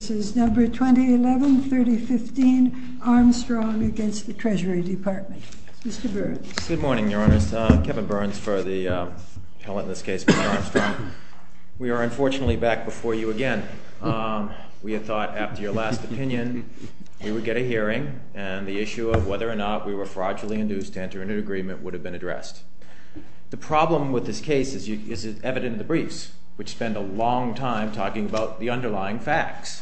This is Number 2011-3015, Armstrong against the Treasury Department. Mr. Burns. Good morning, Your Honour. Kevin Burns for the appellate in this case, Mr. Armstrong. We are unfortunately back before you again. We had thought after your last opinion we would get a hearing and the issue of whether or not we were fraudulently induced to enter into an agreement would have been addressed. The problem with this case is evident in the briefs, which spend a long time talking about the underlying facts.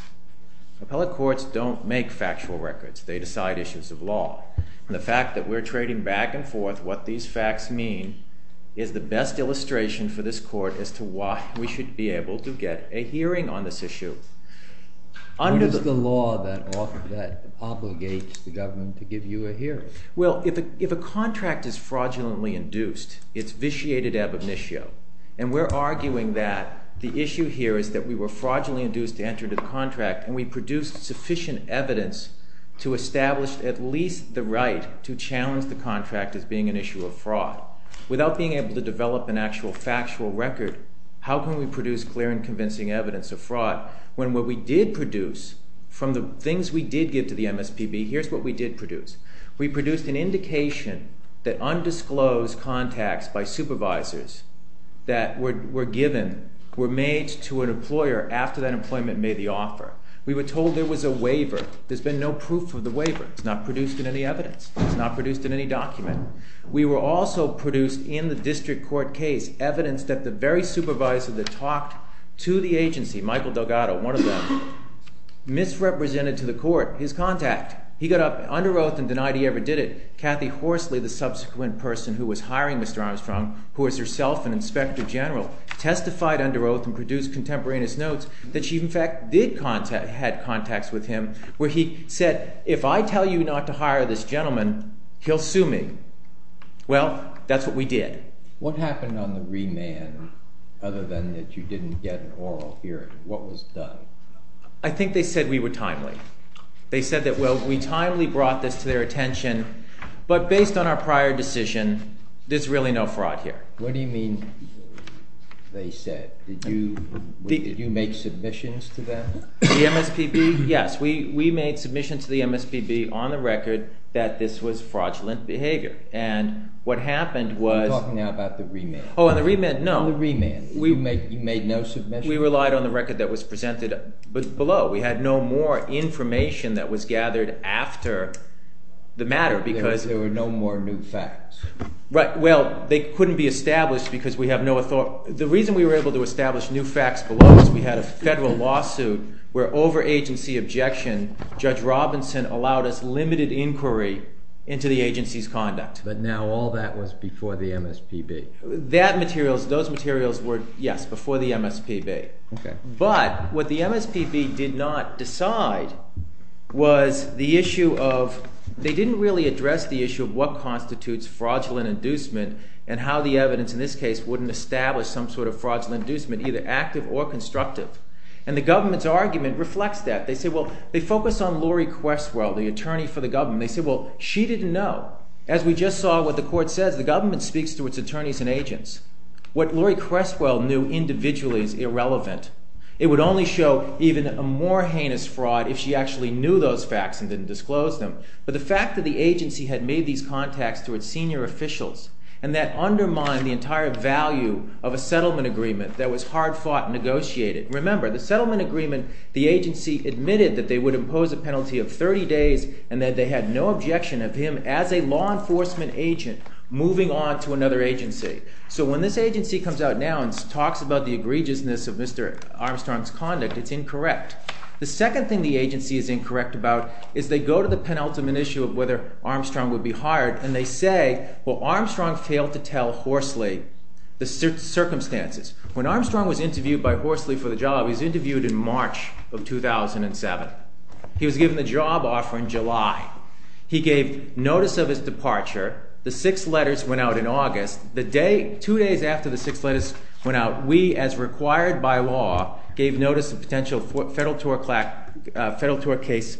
Appellate courts don't make factual records. They decide issues of law. The fact that we are trading back and forth what these facts mean is the best illustration for this court as to why we should be able to get a hearing on this issue. What is the law that obligates the government to give you a hearing? Well, if a contract is fraudulently induced, it's vitiated ab initio. And we're arguing that the issue here is that we were fraudulently induced to enter into the contract and we produced sufficient evidence to establish at least the right to challenge the contract as being an issue of fraud. Without being able to develop an actual factual record, how can we produce clear and convincing evidence of fraud when what we did produce from the things we did give to the MSPB, here's what we did produce. We produced an indication that undisclosed contacts by supervisors that were given were made to an employer after that employment made the offer. We were told there was a waiver. There's been no proof of the waiver. It's not produced in any evidence. It's not produced in any document. We were also produced in the district court case evidence that the very supervisor that talked to the agency, Michael Delgado, one of them, misrepresented to the court his contact. He got under oath and denied he ever did it. Kathy Horsley, the subsequent person who was hiring Mr. Armstrong, who was herself an inspector general, testified under oath and produced contemporaneous notes that she, in fact, did have contacts with him, where he said, if I tell you not to hire this gentleman, he'll sue me. Well, that's what we did. What happened on the remand other than that you didn't get an oral hearing? What was done? I think they said we were timely. They said that, well, we timely brought this to their attention, but based on our prior decision, there's really no fraud here. What do you mean they said? Did you make submissions to them? The MSPB, yes. We made submissions to the MSPB on the record that this was fraudulent behavior. And what happened was— Are you talking now about the remand? Oh, on the remand, no. On the remand, you made no submissions? We relied on the record that was presented below. We had no more information that was gathered after the matter because— There were no more new facts. Well, they couldn't be established because we have no—the reason we were able to establish new facts below was we had a federal lawsuit where, over agency objection, Judge Robinson allowed us limited inquiry into the agency's conduct. But now all that was before the MSPB. Those materials were, yes, before the MSPB. But what the MSPB did not decide was the issue of—they didn't really address the issue of what constitutes fraudulent inducement and how the evidence in this case wouldn't establish some sort of fraudulent inducement, either active or constructive. And the government's argument reflects that. They say, well—they focus on Lori Questwell, the attorney for the government. They say, well, she didn't know. As we just saw what the Court says, the government speaks to its attorneys and agents. What Lori Questwell knew individually is irrelevant. It would only show even a more heinous fraud if she actually knew those facts and didn't disclose them. But the fact that the agency had made these contacts to its senior officials and that undermined the entire value of a settlement agreement that was hard-fought and negotiated— moving on to another agency. So when this agency comes out now and talks about the egregiousness of Mr. Armstrong's conduct, it's incorrect. The second thing the agency is incorrect about is they go to the penultimate issue of whether Armstrong would be hired. And they say, well, Armstrong failed to tell Horsley the circumstances. When Armstrong was interviewed by Horsley for the job—he was interviewed in March of 2007. He was given the job offer in July. He gave notice of his departure. The six letters went out in August. The day—two days after the six letters went out, we, as required by law, gave notice of potential Federal Tort Claims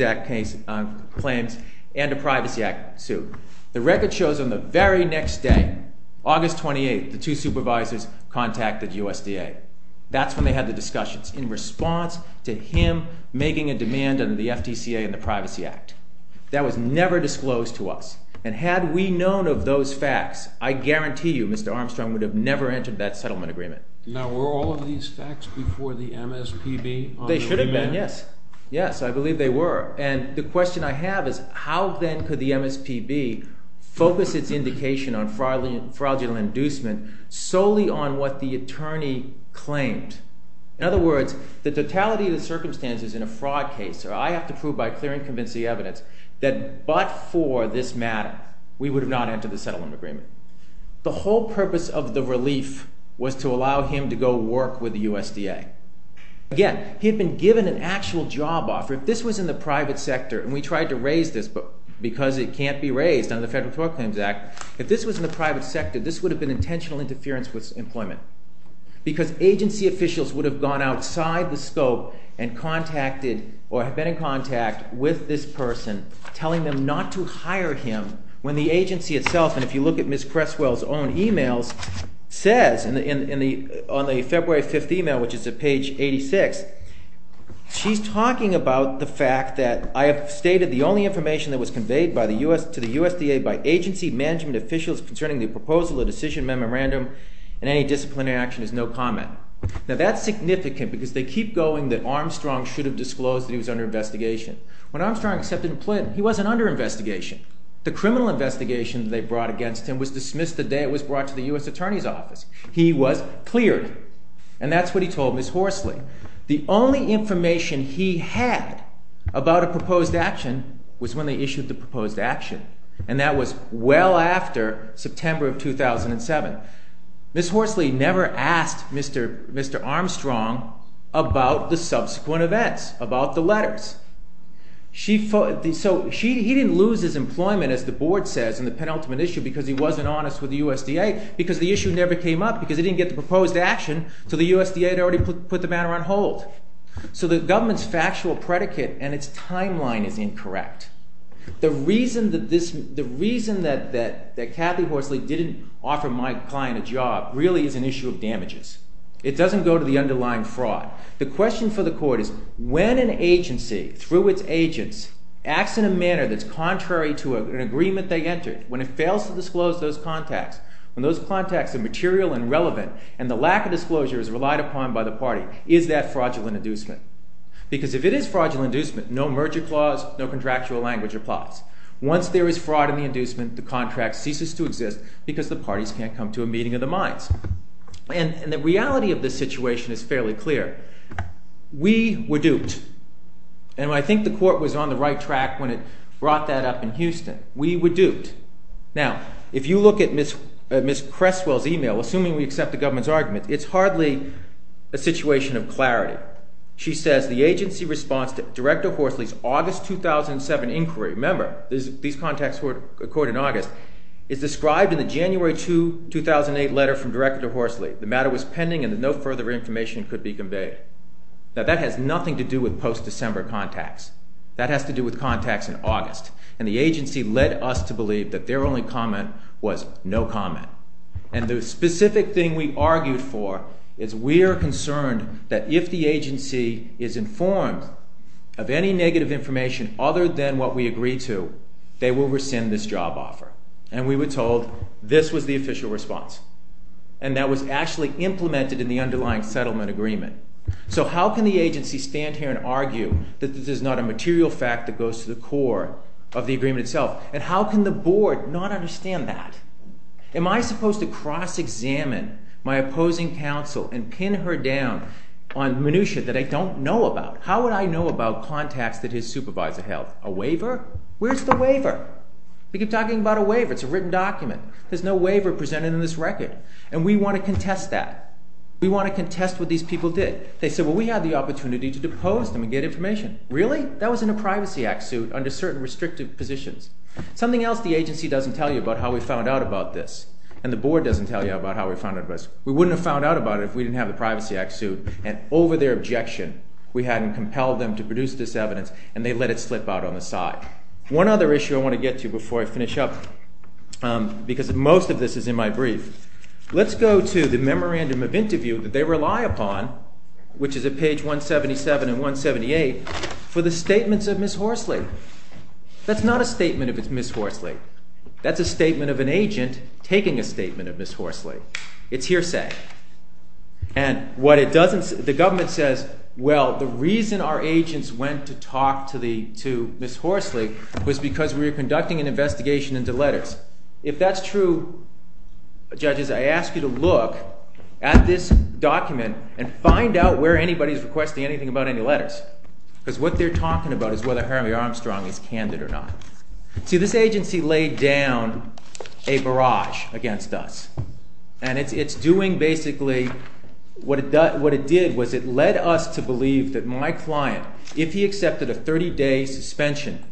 Act claims and a Privacy Act suit. The record shows on the very next day, August 28, the two supervisors contacted USDA. That's when they had the discussions in response to him making a demand under the FTCA and the Privacy Act. That was never disclosed to us. And had we known of those facts, I guarantee you Mr. Armstrong would have never entered that settlement agreement. Now, were all of these facts before the MSPB? They should have been, yes. Yes, I believe they were. And the question I have is how then could the MSPB focus its indication on fraudulent inducement solely on what the attorney claimed? In other words, the totality of the circumstances in a fraud case—or I have to prove by clear and convincing evidence that but for this matter, we would have not entered the settlement agreement. The whole purpose of the relief was to allow him to go work with the USDA. Again, he had been given an actual job offer. If this was in the private sector—and we tried to raise this because it can't be raised under the Federal Tort Claims Act—if this was in the private sector, this would have been intentional interference with employment. Because agency officials would have gone outside the scope and contacted or have been in contact with this person telling them not to hire him when the agency itself—and if you look at Ms. Cresswell's own emails—says, on the February 5th email, which is at page 86, she's talking about the fact that I have stated the only information that was conveyed to the USDA by agency management officials concerning the proposal, the decision memorandum, and any disciplinary action is no comment. Now, that's significant because they keep going that Armstrong should have disclosed that he was under investigation. When Armstrong accepted employment, he wasn't under investigation. The criminal investigation that they brought against him was dismissed the day it was brought to the U.S. Attorney's Office. He was cleared. And that's what he told Ms. Horsley. The only information he had about a proposed action was when they issued the proposed action, and that was well after September of 2007. Ms. Horsley never asked Mr. Armstrong about the subsequent events, about the letters. So he didn't lose his employment, as the Board says, in the penultimate issue because he wasn't honest with the USDA because the issue never came up because he didn't get the proposed action, so the USDA had already put the matter on hold. So the government's factual predicate and its timeline is incorrect. The reason that Kathy Horsley didn't offer my client a job really is an issue of damages. It doesn't go to the underlying fraud. The question for the Court is when an agency, through its agents, acts in a manner that's contrary to an agreement they entered, when it fails to disclose those contacts, when those contacts are material and relevant and the lack of disclosure is relied upon by the party, is that fraudulent inducement? Because if it is fraudulent inducement, no merger clause, no contractual language applies. Once there is fraud in the inducement, the contract ceases to exist because the parties can't come to a meeting of the minds. And the reality of this situation is fairly clear. We were duped, and I think the Court was on the right track when it brought that up in Houston. We were duped. Now, if you look at Ms. Cresswell's email, assuming we accept the government's argument, it's hardly a situation of clarity. She says the agency response to Director Horsley's August 2007 inquiry—remember, these contacts were recorded in August—is described in the January 2008 letter from Director Horsley. The matter was pending and no further information could be conveyed. Now, that has nothing to do with post-December contacts. That has to do with contacts in August. And the agency led us to believe that their only comment was no comment. And the specific thing we argued for is we are concerned that if the agency is informed of any negative information other than what we agreed to, they will rescind this job offer. And we were told this was the official response. And that was actually implemented in the underlying settlement agreement. So how can the agency stand here and argue that this is not a material fact that goes to the core of the agreement itself? And how can the Board not understand that? Am I supposed to cross-examine my opposing counsel and pin her down on minutiae that I don't know about? How would I know about contacts that his supervisor held? A waiver? Where's the waiver? We keep talking about a waiver. It's a written document. There's no waiver presented in this record. And we want to contest that. We want to contest what these people did. They said, well, we had the opportunity to depose them and get information. Really? That was in a Privacy Act suit under certain restrictive positions. Something else the agency doesn't tell you about how we found out about this. And the Board doesn't tell you about how we found out about this. We wouldn't have found out about it if we didn't have the Privacy Act suit. And over their objection, we hadn't compelled them to produce this evidence, and they let it slip out on the side. One other issue I want to get to before I finish up, because most of this is in my brief. Let's go to the memorandum of interview that they rely upon, which is at page 177 and 178, for the statements of Ms. Horsley. That's not a statement if it's Ms. Horsley. That's a statement of an agent taking a statement of Ms. Horsley. It's hearsay. And what it doesn't say, the government says, well, the reason our agents went to talk to Ms. Horsley was because we were conducting an investigation into letters. If that's true, judges, I ask you to look at this document and find out where anybody is requesting anything about any letters. Because what they're talking about is whether Hermie Armstrong is candid or not. See, this agency laid down a barrage against us. And it's doing basically – what it did was it led us to believe that my client, if he accepted a 30-day suspension,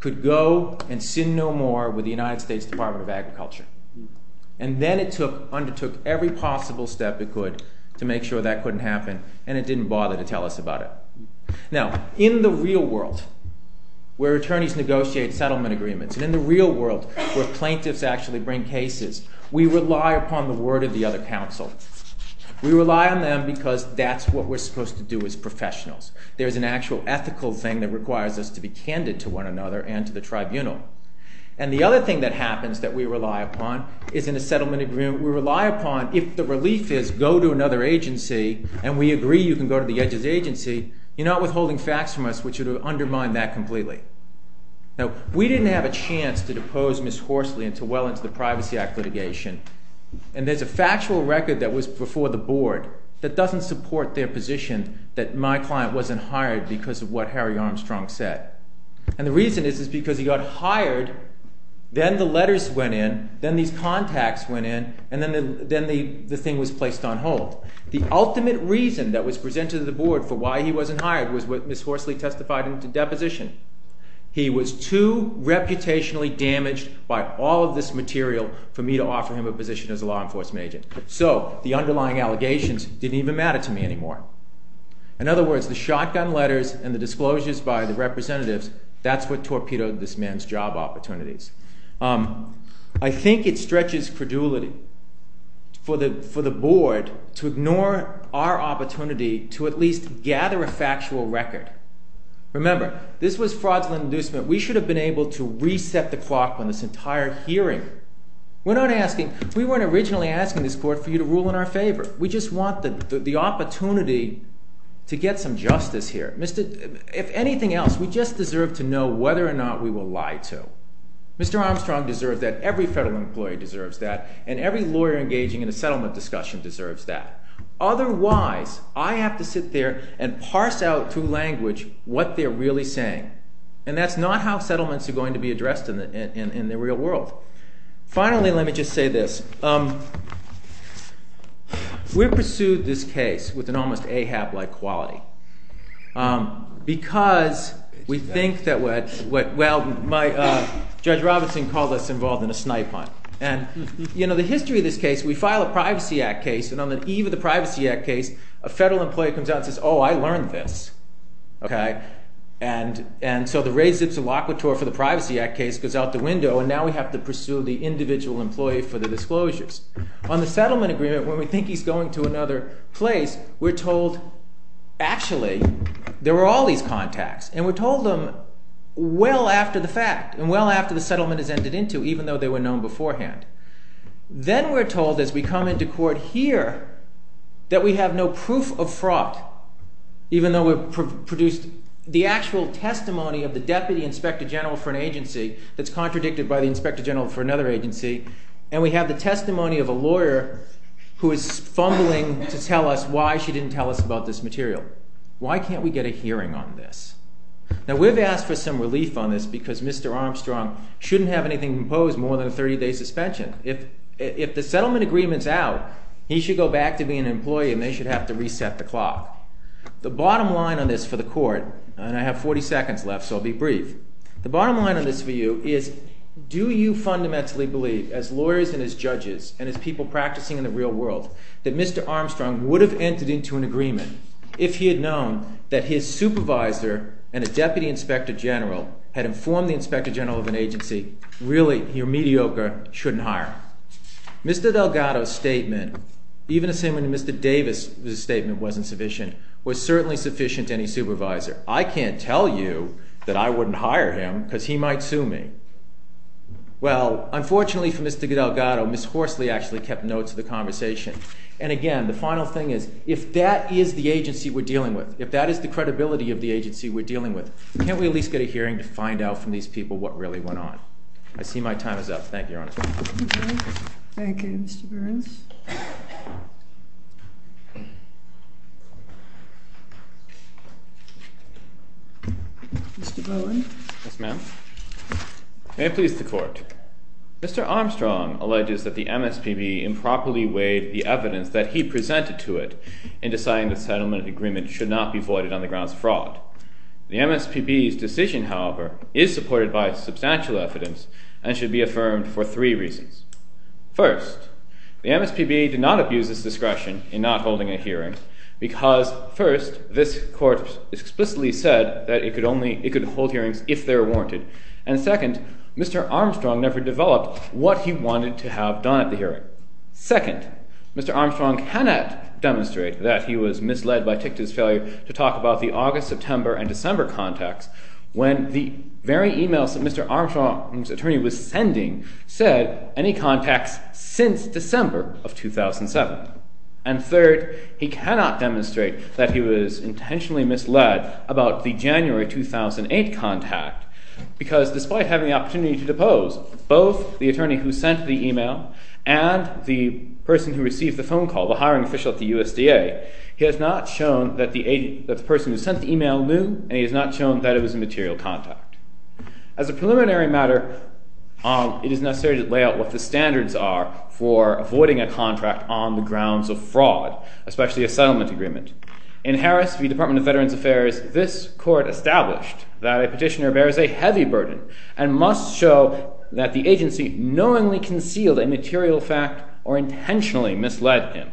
could go and sin no more with the United States Department of Agriculture. And then it undertook every possible step it could to make sure that couldn't happen, and it didn't bother to tell us about it. Now, in the real world, where attorneys negotiate settlement agreements, and in the real world where plaintiffs actually bring cases, we rely upon the word of the other counsel. We rely on them because that's what we're supposed to do as professionals. There's an actual ethical thing that requires us to be candid to one another and to the tribunal. And the other thing that happens that we rely upon is in a settlement agreement we rely upon if the relief is go to another agency and we agree you can go to the judge's agency, you're not withholding facts from us, which would undermine that completely. Now, we didn't have a chance to depose Ms. Horsley until well into the Privacy Act litigation. And there's a factual record that was before the board that doesn't support their position that my client wasn't hired because of what Harry Armstrong said. And the reason is because he got hired, then the letters went in, then these contacts went in, and then the thing was placed on hold. The ultimate reason that was presented to the board for why he wasn't hired was what Ms. Horsley testified in the deposition. He was too reputationally damaged by all of this material for me to offer him a position as a law enforcement agent. So the underlying allegations didn't even matter to me anymore. In other words, the shotgun letters and the disclosures by the representatives, that's what torpedoed this man's job opportunities. I think it stretches credulity for the board to ignore our opportunity to at least gather a factual record. Remember, this was fraudulent inducement. We should have been able to reset the clock on this entire hearing. We're not asking – we weren't originally asking this court for you to rule in our favor. We just want the opportunity to get some justice here. If anything else, we just deserve to know whether or not we will lie to. Mr. Armstrong deserves that, every federal employee deserves that, and every lawyer engaging in a settlement discussion deserves that. Otherwise, I have to sit there and parse out through language what they're really saying. And that's not how settlements are going to be addressed in the real world. Finally, let me just say this. We pursued this case with an almost Ahab-like quality because we think that – well, Judge Robinson called us involved in a snipe hunt. And the history of this case, we file a Privacy Act case, and on the eve of the Privacy Act case, a federal employee comes out and says, oh, I learned this. And so the res ipsa loquitur for the Privacy Act case goes out the window, and now we have to pursue the individual employee for the disclosures. On the settlement agreement, when we think he's going to another place, we're told, actually, there were all these contacts. And we're told them well after the fact and well after the settlement has ended into, even though they were known beforehand. Then we're told as we come into court here that we have no proof of fraud, even though we've produced the actual testimony of the deputy inspector general for an agency that's contradicted by the inspector general for another agency. And we have the testimony of a lawyer who is fumbling to tell us why she didn't tell us about this material. Why can't we get a hearing on this? Now, we've asked for some relief on this because Mr. Armstrong shouldn't have anything to impose more than a 30-day suspension. If the settlement agreement's out, he should go back to being an employee, and they should have to reset the clock. The bottom line on this for the court, and I have 40 seconds left, so I'll be brief. The bottom line on this for you is do you fundamentally believe, as lawyers and as judges and as people practicing in the real world, that Mr. Armstrong would have entered into an agreement if he had known that his supervisor and a deputy inspector general had informed the inspector general of an agency, really, you're mediocre, shouldn't hire? Mr. Delgado's statement, even assuming Mr. Davis' statement wasn't sufficient, was certainly sufficient to any supervisor. I can't tell you that I wouldn't hire him because he might sue me. Well, unfortunately for Mr. Delgado, Ms. Horsley actually kept notes of the conversation. And again, the final thing is if that is the agency we're dealing with, if that is the credibility of the agency we're dealing with, can't we at least get a hearing to find out from these people what really went on? I see my time is up. Thank you, Your Honor. Thank you, Mr. Burns. Mr. Bowen. Yes, ma'am. May it please the court. Mr. Armstrong alleges that the MSPB improperly weighed the evidence that he presented to it in deciding the settlement agreement should not be voided on the grounds of fraud. The MSPB's decision, however, is supported by substantial evidence and should be affirmed for three reasons. First, the MSPB did not abuse its discretion in not holding a hearing because, first, this court explicitly said that it could hold hearings if they were warranted. And second, Mr. Armstrong never developed what he wanted to have done at the hearing. Second, Mr. Armstrong cannot demonstrate that he was misled by Tictor's failure to talk about the August, September, and December contacts when the very emails that Mr. Armstrong's attorney was sending said any contacts since December of 2007. And third, he cannot demonstrate that he was intentionally misled about the January 2008 contact because, despite having the opportunity to depose both the attorney who sent the email and the person who received the phone call, the hiring official at the USDA, he has not shown that the person who sent the email knew and he has not shown that it was a material contact. As a preliminary matter, it is necessary to lay out what the standards are for avoiding a contract on the grounds of fraud, especially a settlement agreement. In Harris v. Department of Veterans Affairs, this court established that a petitioner bears a heavy burden and must show that the agency knowingly concealed a material fact or intentionally misled him.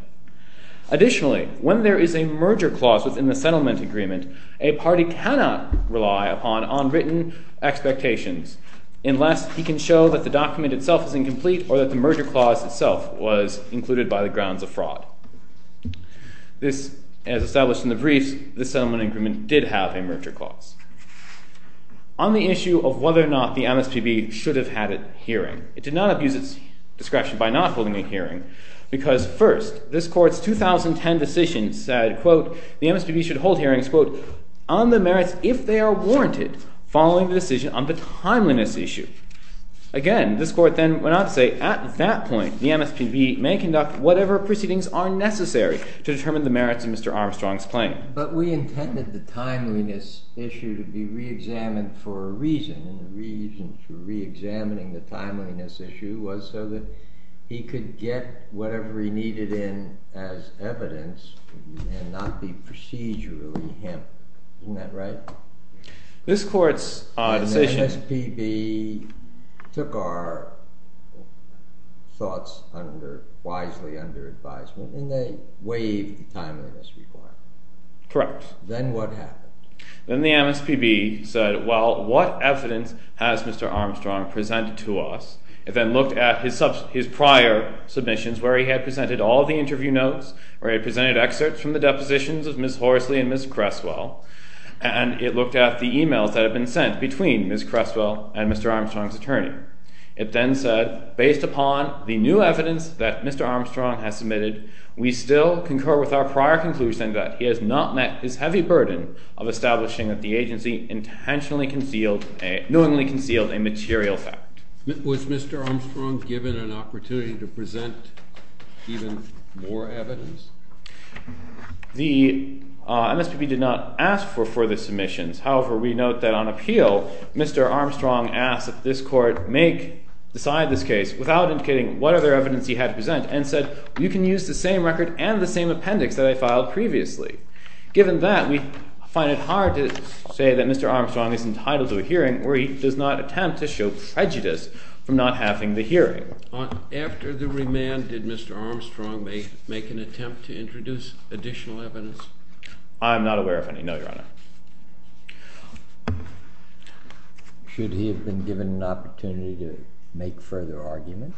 Additionally, when there is a merger clause within the settlement agreement, a party cannot rely upon unwritten expectations unless he can show that the document itself is incomplete or that the merger clause itself was included by the grounds of fraud. This, as established in the briefs, this settlement agreement did have a merger clause. On the issue of whether or not the MSPB should have had a hearing, it did not abuse its discretion by not holding a hearing because, first, this court's 2010 decision said, quote, the MSPB should hold hearings, quote, on the merits if they are warranted following the decision on the timeliness issue. Again, this court then went on to say, at that point, the MSPB may conduct whatever proceedings are necessary to determine the merits of Mr. Armstrong's claim. But we intended the timeliness issue to be reexamined for a reason. And the reason for reexamining the timeliness issue was so that he could get whatever he needed in as evidence and not be procedurally hemmed. Isn't that right? This court's decision. The MSPB took our thoughts wisely under advisement and they waived the timeliness requirement. Correct. Then what happened? Then the MSPB said, well, what evidence has Mr. Armstrong presented to us? It then looked at his prior submissions where he had presented all the interview notes, where he presented excerpts from the depositions of Ms. Horsley and Ms. Cresswell. And it looked at the emails that had been sent between Ms. Cresswell and Mr. Armstrong's attorney. It then said, based upon the new evidence that Mr. Armstrong has submitted, we still concur with our prior conclusion that he has not met his heavy burden of establishing that the agency intentionally concealed, knowingly concealed a material fact. Was Mr. Armstrong given an opportunity to present even more evidence? The MSPB did not ask for further submissions. However, we note that on appeal, Mr. Armstrong asked that this court decide this case without indicating what other evidence he had to present and said, you can use the same record and the same appendix that I filed previously. Given that, we find it hard to say that Mr. Armstrong is entitled to a hearing where he does not attempt to show prejudice from not having the hearing. After the remand, did Mr. Armstrong make an attempt to introduce additional evidence? I am not aware of any, no, Your Honor. Should he have been given an opportunity to make further argument?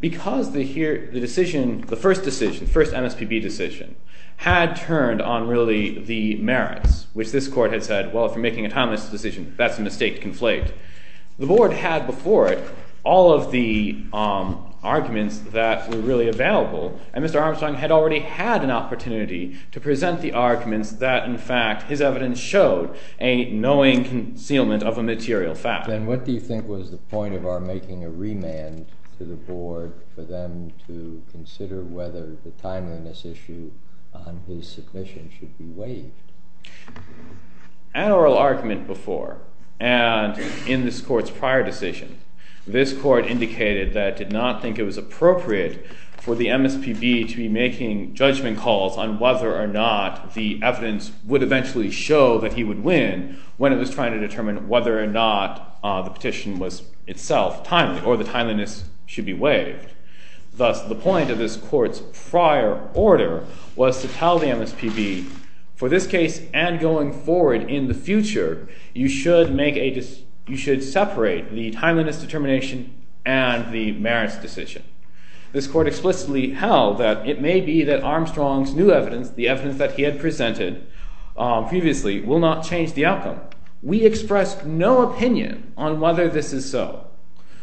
Because the first decision, the first MSPB decision, had turned on really the merits, which this court had said, well, if you're making a timeless decision, that's a mistake to conflate. The board had before it all of the arguments that were really available, and Mr. Armstrong had already had an opportunity to present the arguments that, in fact, his evidence showed a knowing concealment of a material fact. Then what do you think was the point of our making a remand to the board for them to consider whether the timeliness issue on his submission should be waived? An oral argument before, and in this court's prior decision, this court indicated that it did not think it was appropriate for the MSPB to be making judgment calls on whether or not the evidence would eventually show that he would win when it was trying to determine whether or not the petition was itself timely or the timeliness should be waived. Thus, the point of this court's prior order was to tell the MSPB, for this case and going forward in the future, you should separate the timeliness determination and the merits decision. This court explicitly held that it may be that Armstrong's new evidence, the evidence that he had presented previously, will not change the outcome. We expressed no opinion on whether this is so.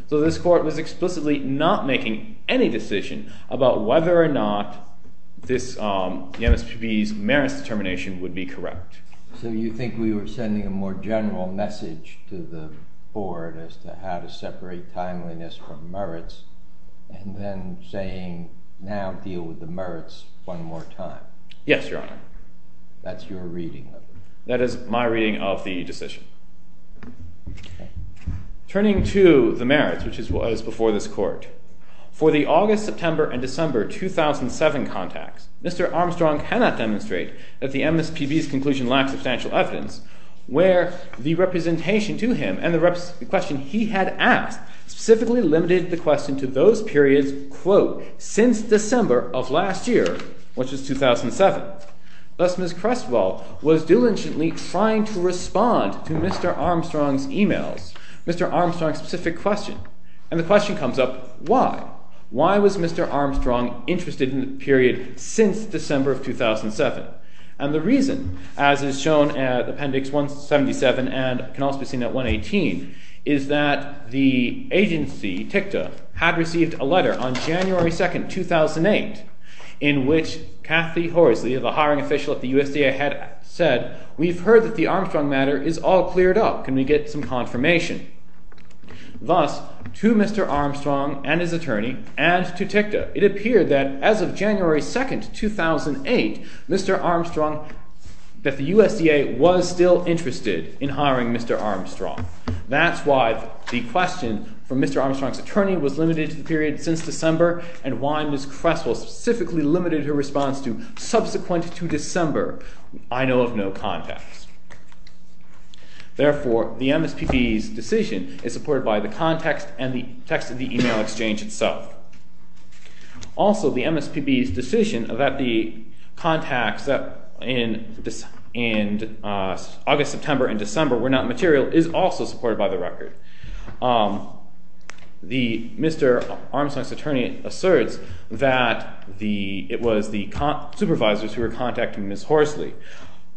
So this court was explicitly not making any decision about whether or not the MSPB's merits determination would be correct. So you think we were sending a more general message to the board as to how to separate timeliness from merits and then saying, now deal with the merits one more time? Yes, Your Honor. That's your reading of it? That is my reading of the decision. Turning to the merits, which was before this court, for the August, September, and December 2007 contacts, Mr. Armstrong cannot demonstrate that the MSPB's conclusion lacks substantial evidence where the representation to him and the question he had asked specifically limited the question to those periods, quote, since December of last year, which is 2007. Thus, Ms. Crestwell was diligently trying to respond to Mr. Armstrong's emails, Mr. Armstrong's specific question. And the question comes up, why? Why was Mr. Armstrong interested in the period since December of 2007? And the reason, as is shown at Appendix 177 and can also be seen at 118, is that the agency, TICTA, had received a letter on January 2nd, 2008, in which Kathy Horsley, the hiring official at the USDA, had said, we've heard that the Armstrong matter is all cleared up. Can we get some confirmation? Thus, to Mr. Armstrong and his attorney, and to TICTA, it appeared that as of January 2nd, 2008, Mr. Armstrong – that the USDA was still interested in hiring Mr. Armstrong. That's why the question from Mr. Armstrong's attorney was limited to the period since December and why Ms. Crestwell specifically limited her response to subsequent to December I know of no context. Therefore, the MSPB's decision is supported by the context and the text of the email exchange itself. Also, the MSPB's decision that the contacts in August, September, and December were not material is also supported by the record. Mr. Armstrong's attorney asserts that it was the supervisors who were contacting Ms. Horsley.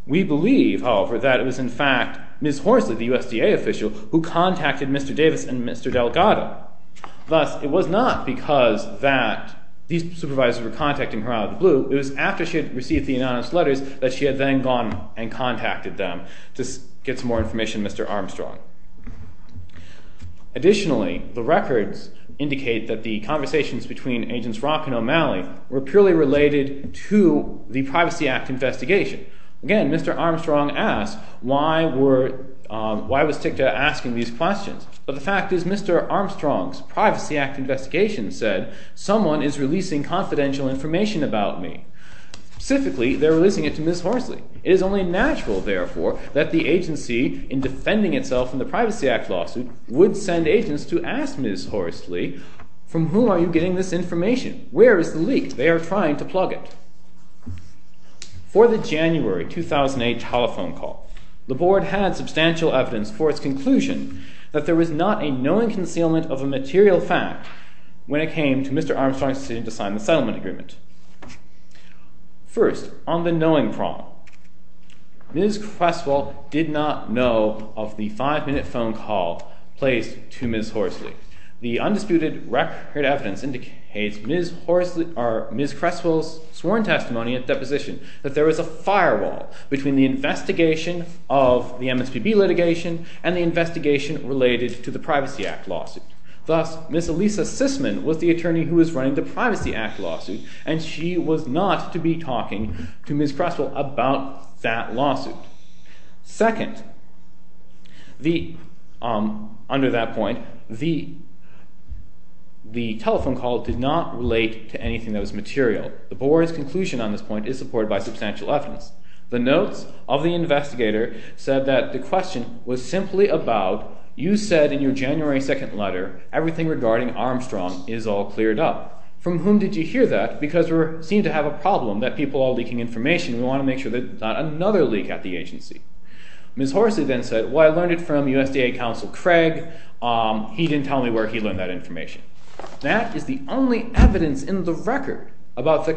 We believe, however, that it was in fact Ms. Horsley, the USDA official, who contacted Mr. Davis and Mr. Delgado. Thus, it was not because that these supervisors were contacting her out of the blue. It was after she had received the anonymous letters that she had then gone and contacted them to get some more information on Mr. Armstrong. Additionally, the records indicate that the conversations between Agents Rock and O'Malley were purely related to the Privacy Act investigation. Again, Mr. Armstrong asked why was TICTA asking these questions. But the fact is Mr. Armstrong's Privacy Act investigation said someone is releasing confidential information about me. Specifically, they're releasing it to Ms. Horsley. It is only natural, therefore, that the agency, in defending itself in the Privacy Act lawsuit, would send agents to ask Ms. Horsley, from whom are you getting this information? Where is the leak? They are trying to plug it. For the January 2008 telephone call, the board had substantial evidence for its conclusion that there was not a knowing concealment of a material fact when it came to Mr. Armstrong's decision to sign the settlement agreement. First, on the knowing problem, Ms. Cresswell did not know of the five-minute phone call placed to Ms. Horsley. The undisputed record evidence indicates Ms. Cresswell's sworn testimony at deposition that there was a firewall between the investigation of the MSPB litigation and the investigation related to the Privacy Act lawsuit. Thus, Ms. Elisa Sisman was the attorney who was running the Privacy Act lawsuit, and she was not to be talking to Ms. Cresswell about that lawsuit. Second, under that point, the telephone call did not relate to anything that was material. The board's conclusion on this point is supported by substantial evidence. The notes of the investigator said that the question was simply about, you said in your January 2nd letter, everything regarding Armstrong is all cleared up. From whom did you hear that? Because we seem to have a problem that people are leaking information. We want to make sure there's not another leak at the agency. Ms. Horsley then said, well, I learned it from USDA Counsel Craig. He didn't tell me where he learned that information. That is the only evidence in the record about the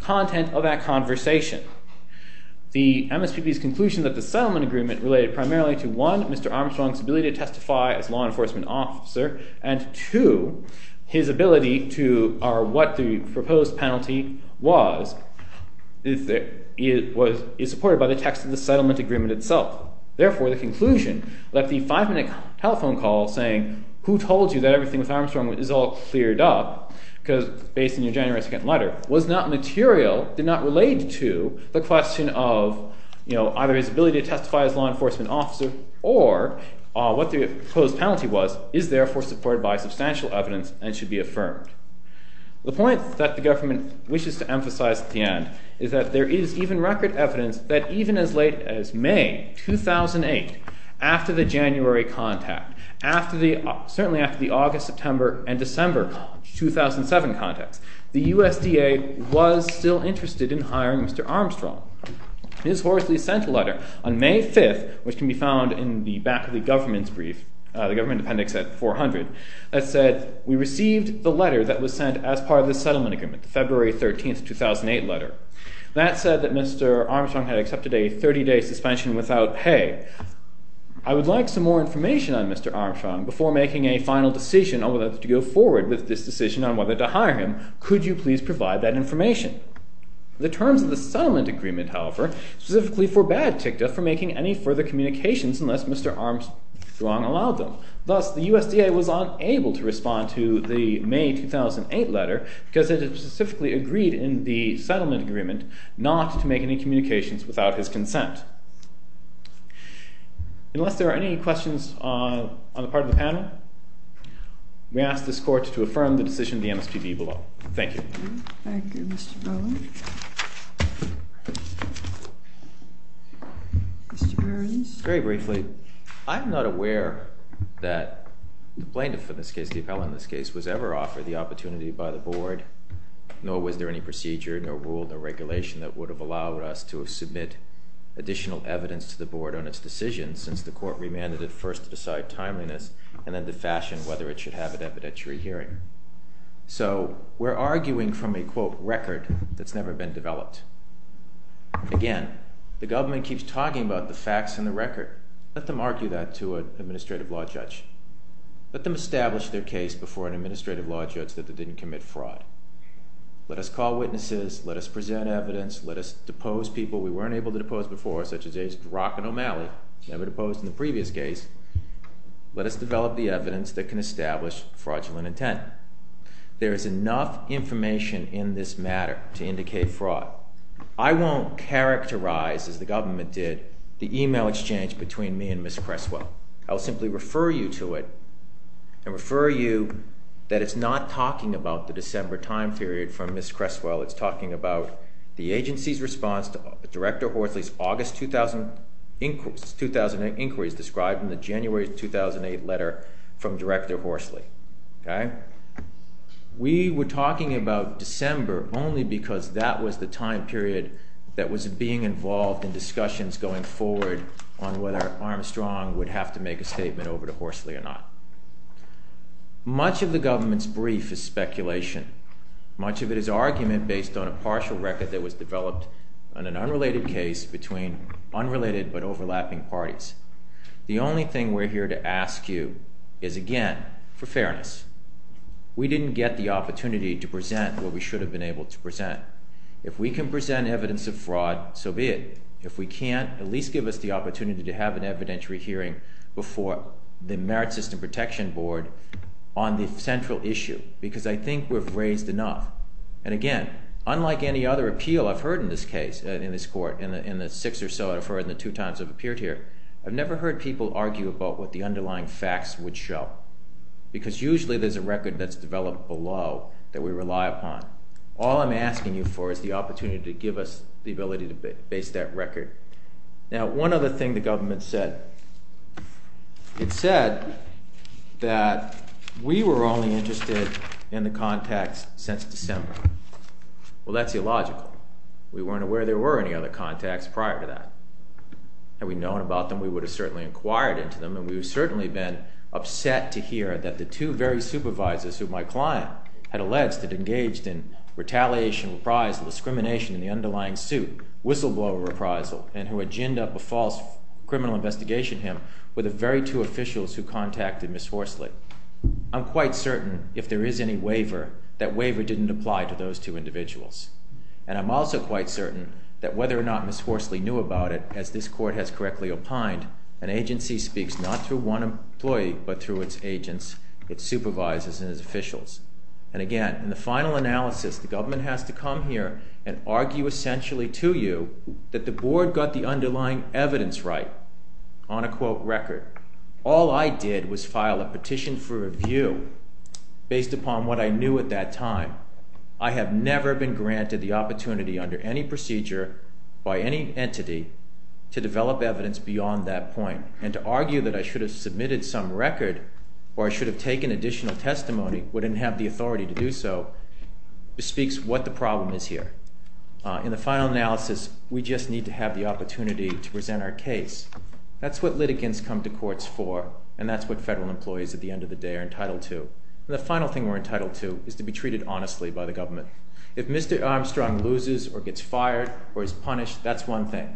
content of that conversation. The MSPB's conclusion that the settlement agreement related primarily to, one, Mr. Armstrong's ability to testify as law enforcement officer, and two, his ability to, or what the proposed penalty was, is supported by the text of the settlement agreement itself. Therefore, the conclusion that the five-minute telephone call saying, who told you that everything with Armstrong is all cleared up, based on your January 2nd letter, was not material, did not relate to the question of either his ability to testify as law enforcement officer, or what the proposed penalty was, is therefore supported by substantial evidence and should be affirmed. The point that the government wishes to emphasize at the end is that there is even record evidence that even as late as May 2008, after the January contact, certainly after the August, September, and December 2007 contacts, the USDA was still interested in hiring Mr. Armstrong. Ms. Horsley sent a letter on May 5th, which can be found in the back of the government's brief, the government appendix at 400, that said, we received the letter that was sent as part of the settlement agreement, the February 13th, 2008 letter. That said that Mr. Armstrong had accepted a 30-day suspension without pay. I would like some more information on Mr. Armstrong before making a final decision on whether to go forward with this decision on whether to hire him. Could you please provide that information? The terms of the settlement agreement, however, specifically forbade TICTA from making any further communications unless Mr. Armstrong allowed them. Thus, the USDA was unable to respond to the May 2008 letter because it had specifically agreed in the settlement agreement not to make any communications without his consent. Unless there are any questions on the part of the panel, we ask this Court to affirm the decision of the MSPB below. Thank you. Thank you, Mr. Bowen. Mr. Burns. Very briefly, I'm not aware that the plaintiff for this case, the appellant in this case, was ever offered the opportunity by the Board, nor was there any procedure, no rule, no regulation that would have allowed us to submit additional evidence to the Board on its decision since the Court remanded it first to decide timeliness and then to fashion whether it should have an evidentiary hearing. So, we're arguing from a, quote, record that's never been developed. Again, the government keeps talking about the facts and the record. Let them argue that to an administrative law judge. Let them establish their case before an administrative law judge that they didn't commit fraud. Let us call witnesses. Let us present evidence. Let us depose people we weren't able to depose before, such as A.S. Brock and O'Malley, never deposed in the previous case. Let us develop the evidence that can establish fraudulent intent. There is enough information in this matter to indicate fraud. I won't characterize, as the government did, the email exchange between me and Ms. Creswell. I will simply refer you to it and refer you that it's not talking about the December time period from Ms. Creswell. It's talking about the agency's response to Director Horsley's August 2008 inquiries described in the January 2008 letter from Director Horsley. We were talking about December only because that was the time period that was being involved in discussions going forward on whether Armstrong would have to make a statement over to Horsley or not. Much of the government's brief is speculation. Much of it is argument based on a partial record that was developed on an unrelated case between unrelated but overlapping parties. The only thing we're here to ask you is, again, for fairness. We didn't get the opportunity to present what we should have been able to present. If we can present evidence of fraud, so be it. If we can't, at least give us the opportunity to have an evidentiary hearing before the Merit System Protection Board on the central issue because I think we've raised enough. And again, unlike any other appeal I've heard in this case, in this court, in the six or so I've heard and the two times I've appeared here, I've never heard people argue about what the underlying facts would show because usually there's a record that's developed below that we rely upon. All I'm asking you for is the opportunity to give us the ability to base that record. Now, one other thing the government said. It said that we were only interested in the contacts since December. Well, that's illogical. We weren't aware there were any other contacts prior to that. Had we known about them, we would have certainly inquired into them, and we would have certainly been upset to hear that the two very supervisors who my client had alleged had engaged in retaliation, reprisal, discrimination in the underlying suit, whistleblower reprisal, and who had ginned up a false criminal investigation him with the very two officials who contacted Ms. Horsley. I'm quite certain, if there is any waiver, that waiver didn't apply to those two individuals. And I'm also quite certain that whether or not Ms. Horsley knew about it, as this court has correctly opined, an agency speaks not through one employee but through its agents, its supervisors, and its officials. And again, in the final analysis, the government has to come here and argue essentially to you that the board got the underlying evidence right on a, quote, record. All I did was file a petition for review based upon what I knew at that time. I have never been granted the opportunity under any procedure by any entity to develop evidence beyond that point. And to argue that I should have submitted some record or I should have taken additional testimony but didn't have the authority to do so bespeaks what the problem is here. In the final analysis, we just need to have the opportunity to present our case. That's what litigants come to courts for, and that's what federal employees at the end of the day are entitled to. And the final thing we're entitled to is to be treated honestly by the government. If Mr. Armstrong loses or gets fired or is punished, that's one thing.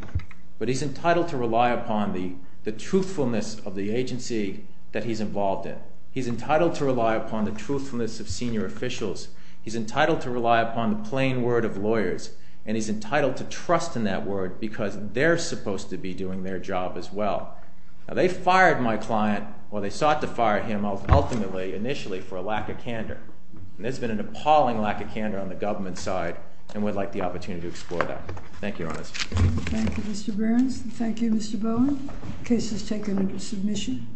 But he's entitled to rely upon the truthfulness of the agency that he's involved in. He's entitled to rely upon the truthfulness of senior officials. He's entitled to rely upon the plain word of lawyers. And he's entitled to trust in that word because they're supposed to be doing their job as well. Now, they fired my client, or they sought to fire him ultimately, initially, for a lack of candor. And there's been an appalling lack of candor on the government side, and we'd like the opportunity to explore that. Thank you, Your Honor. Thank you, Mr. Burns. Thank you, Mr. Bowen. The case is taken into submission.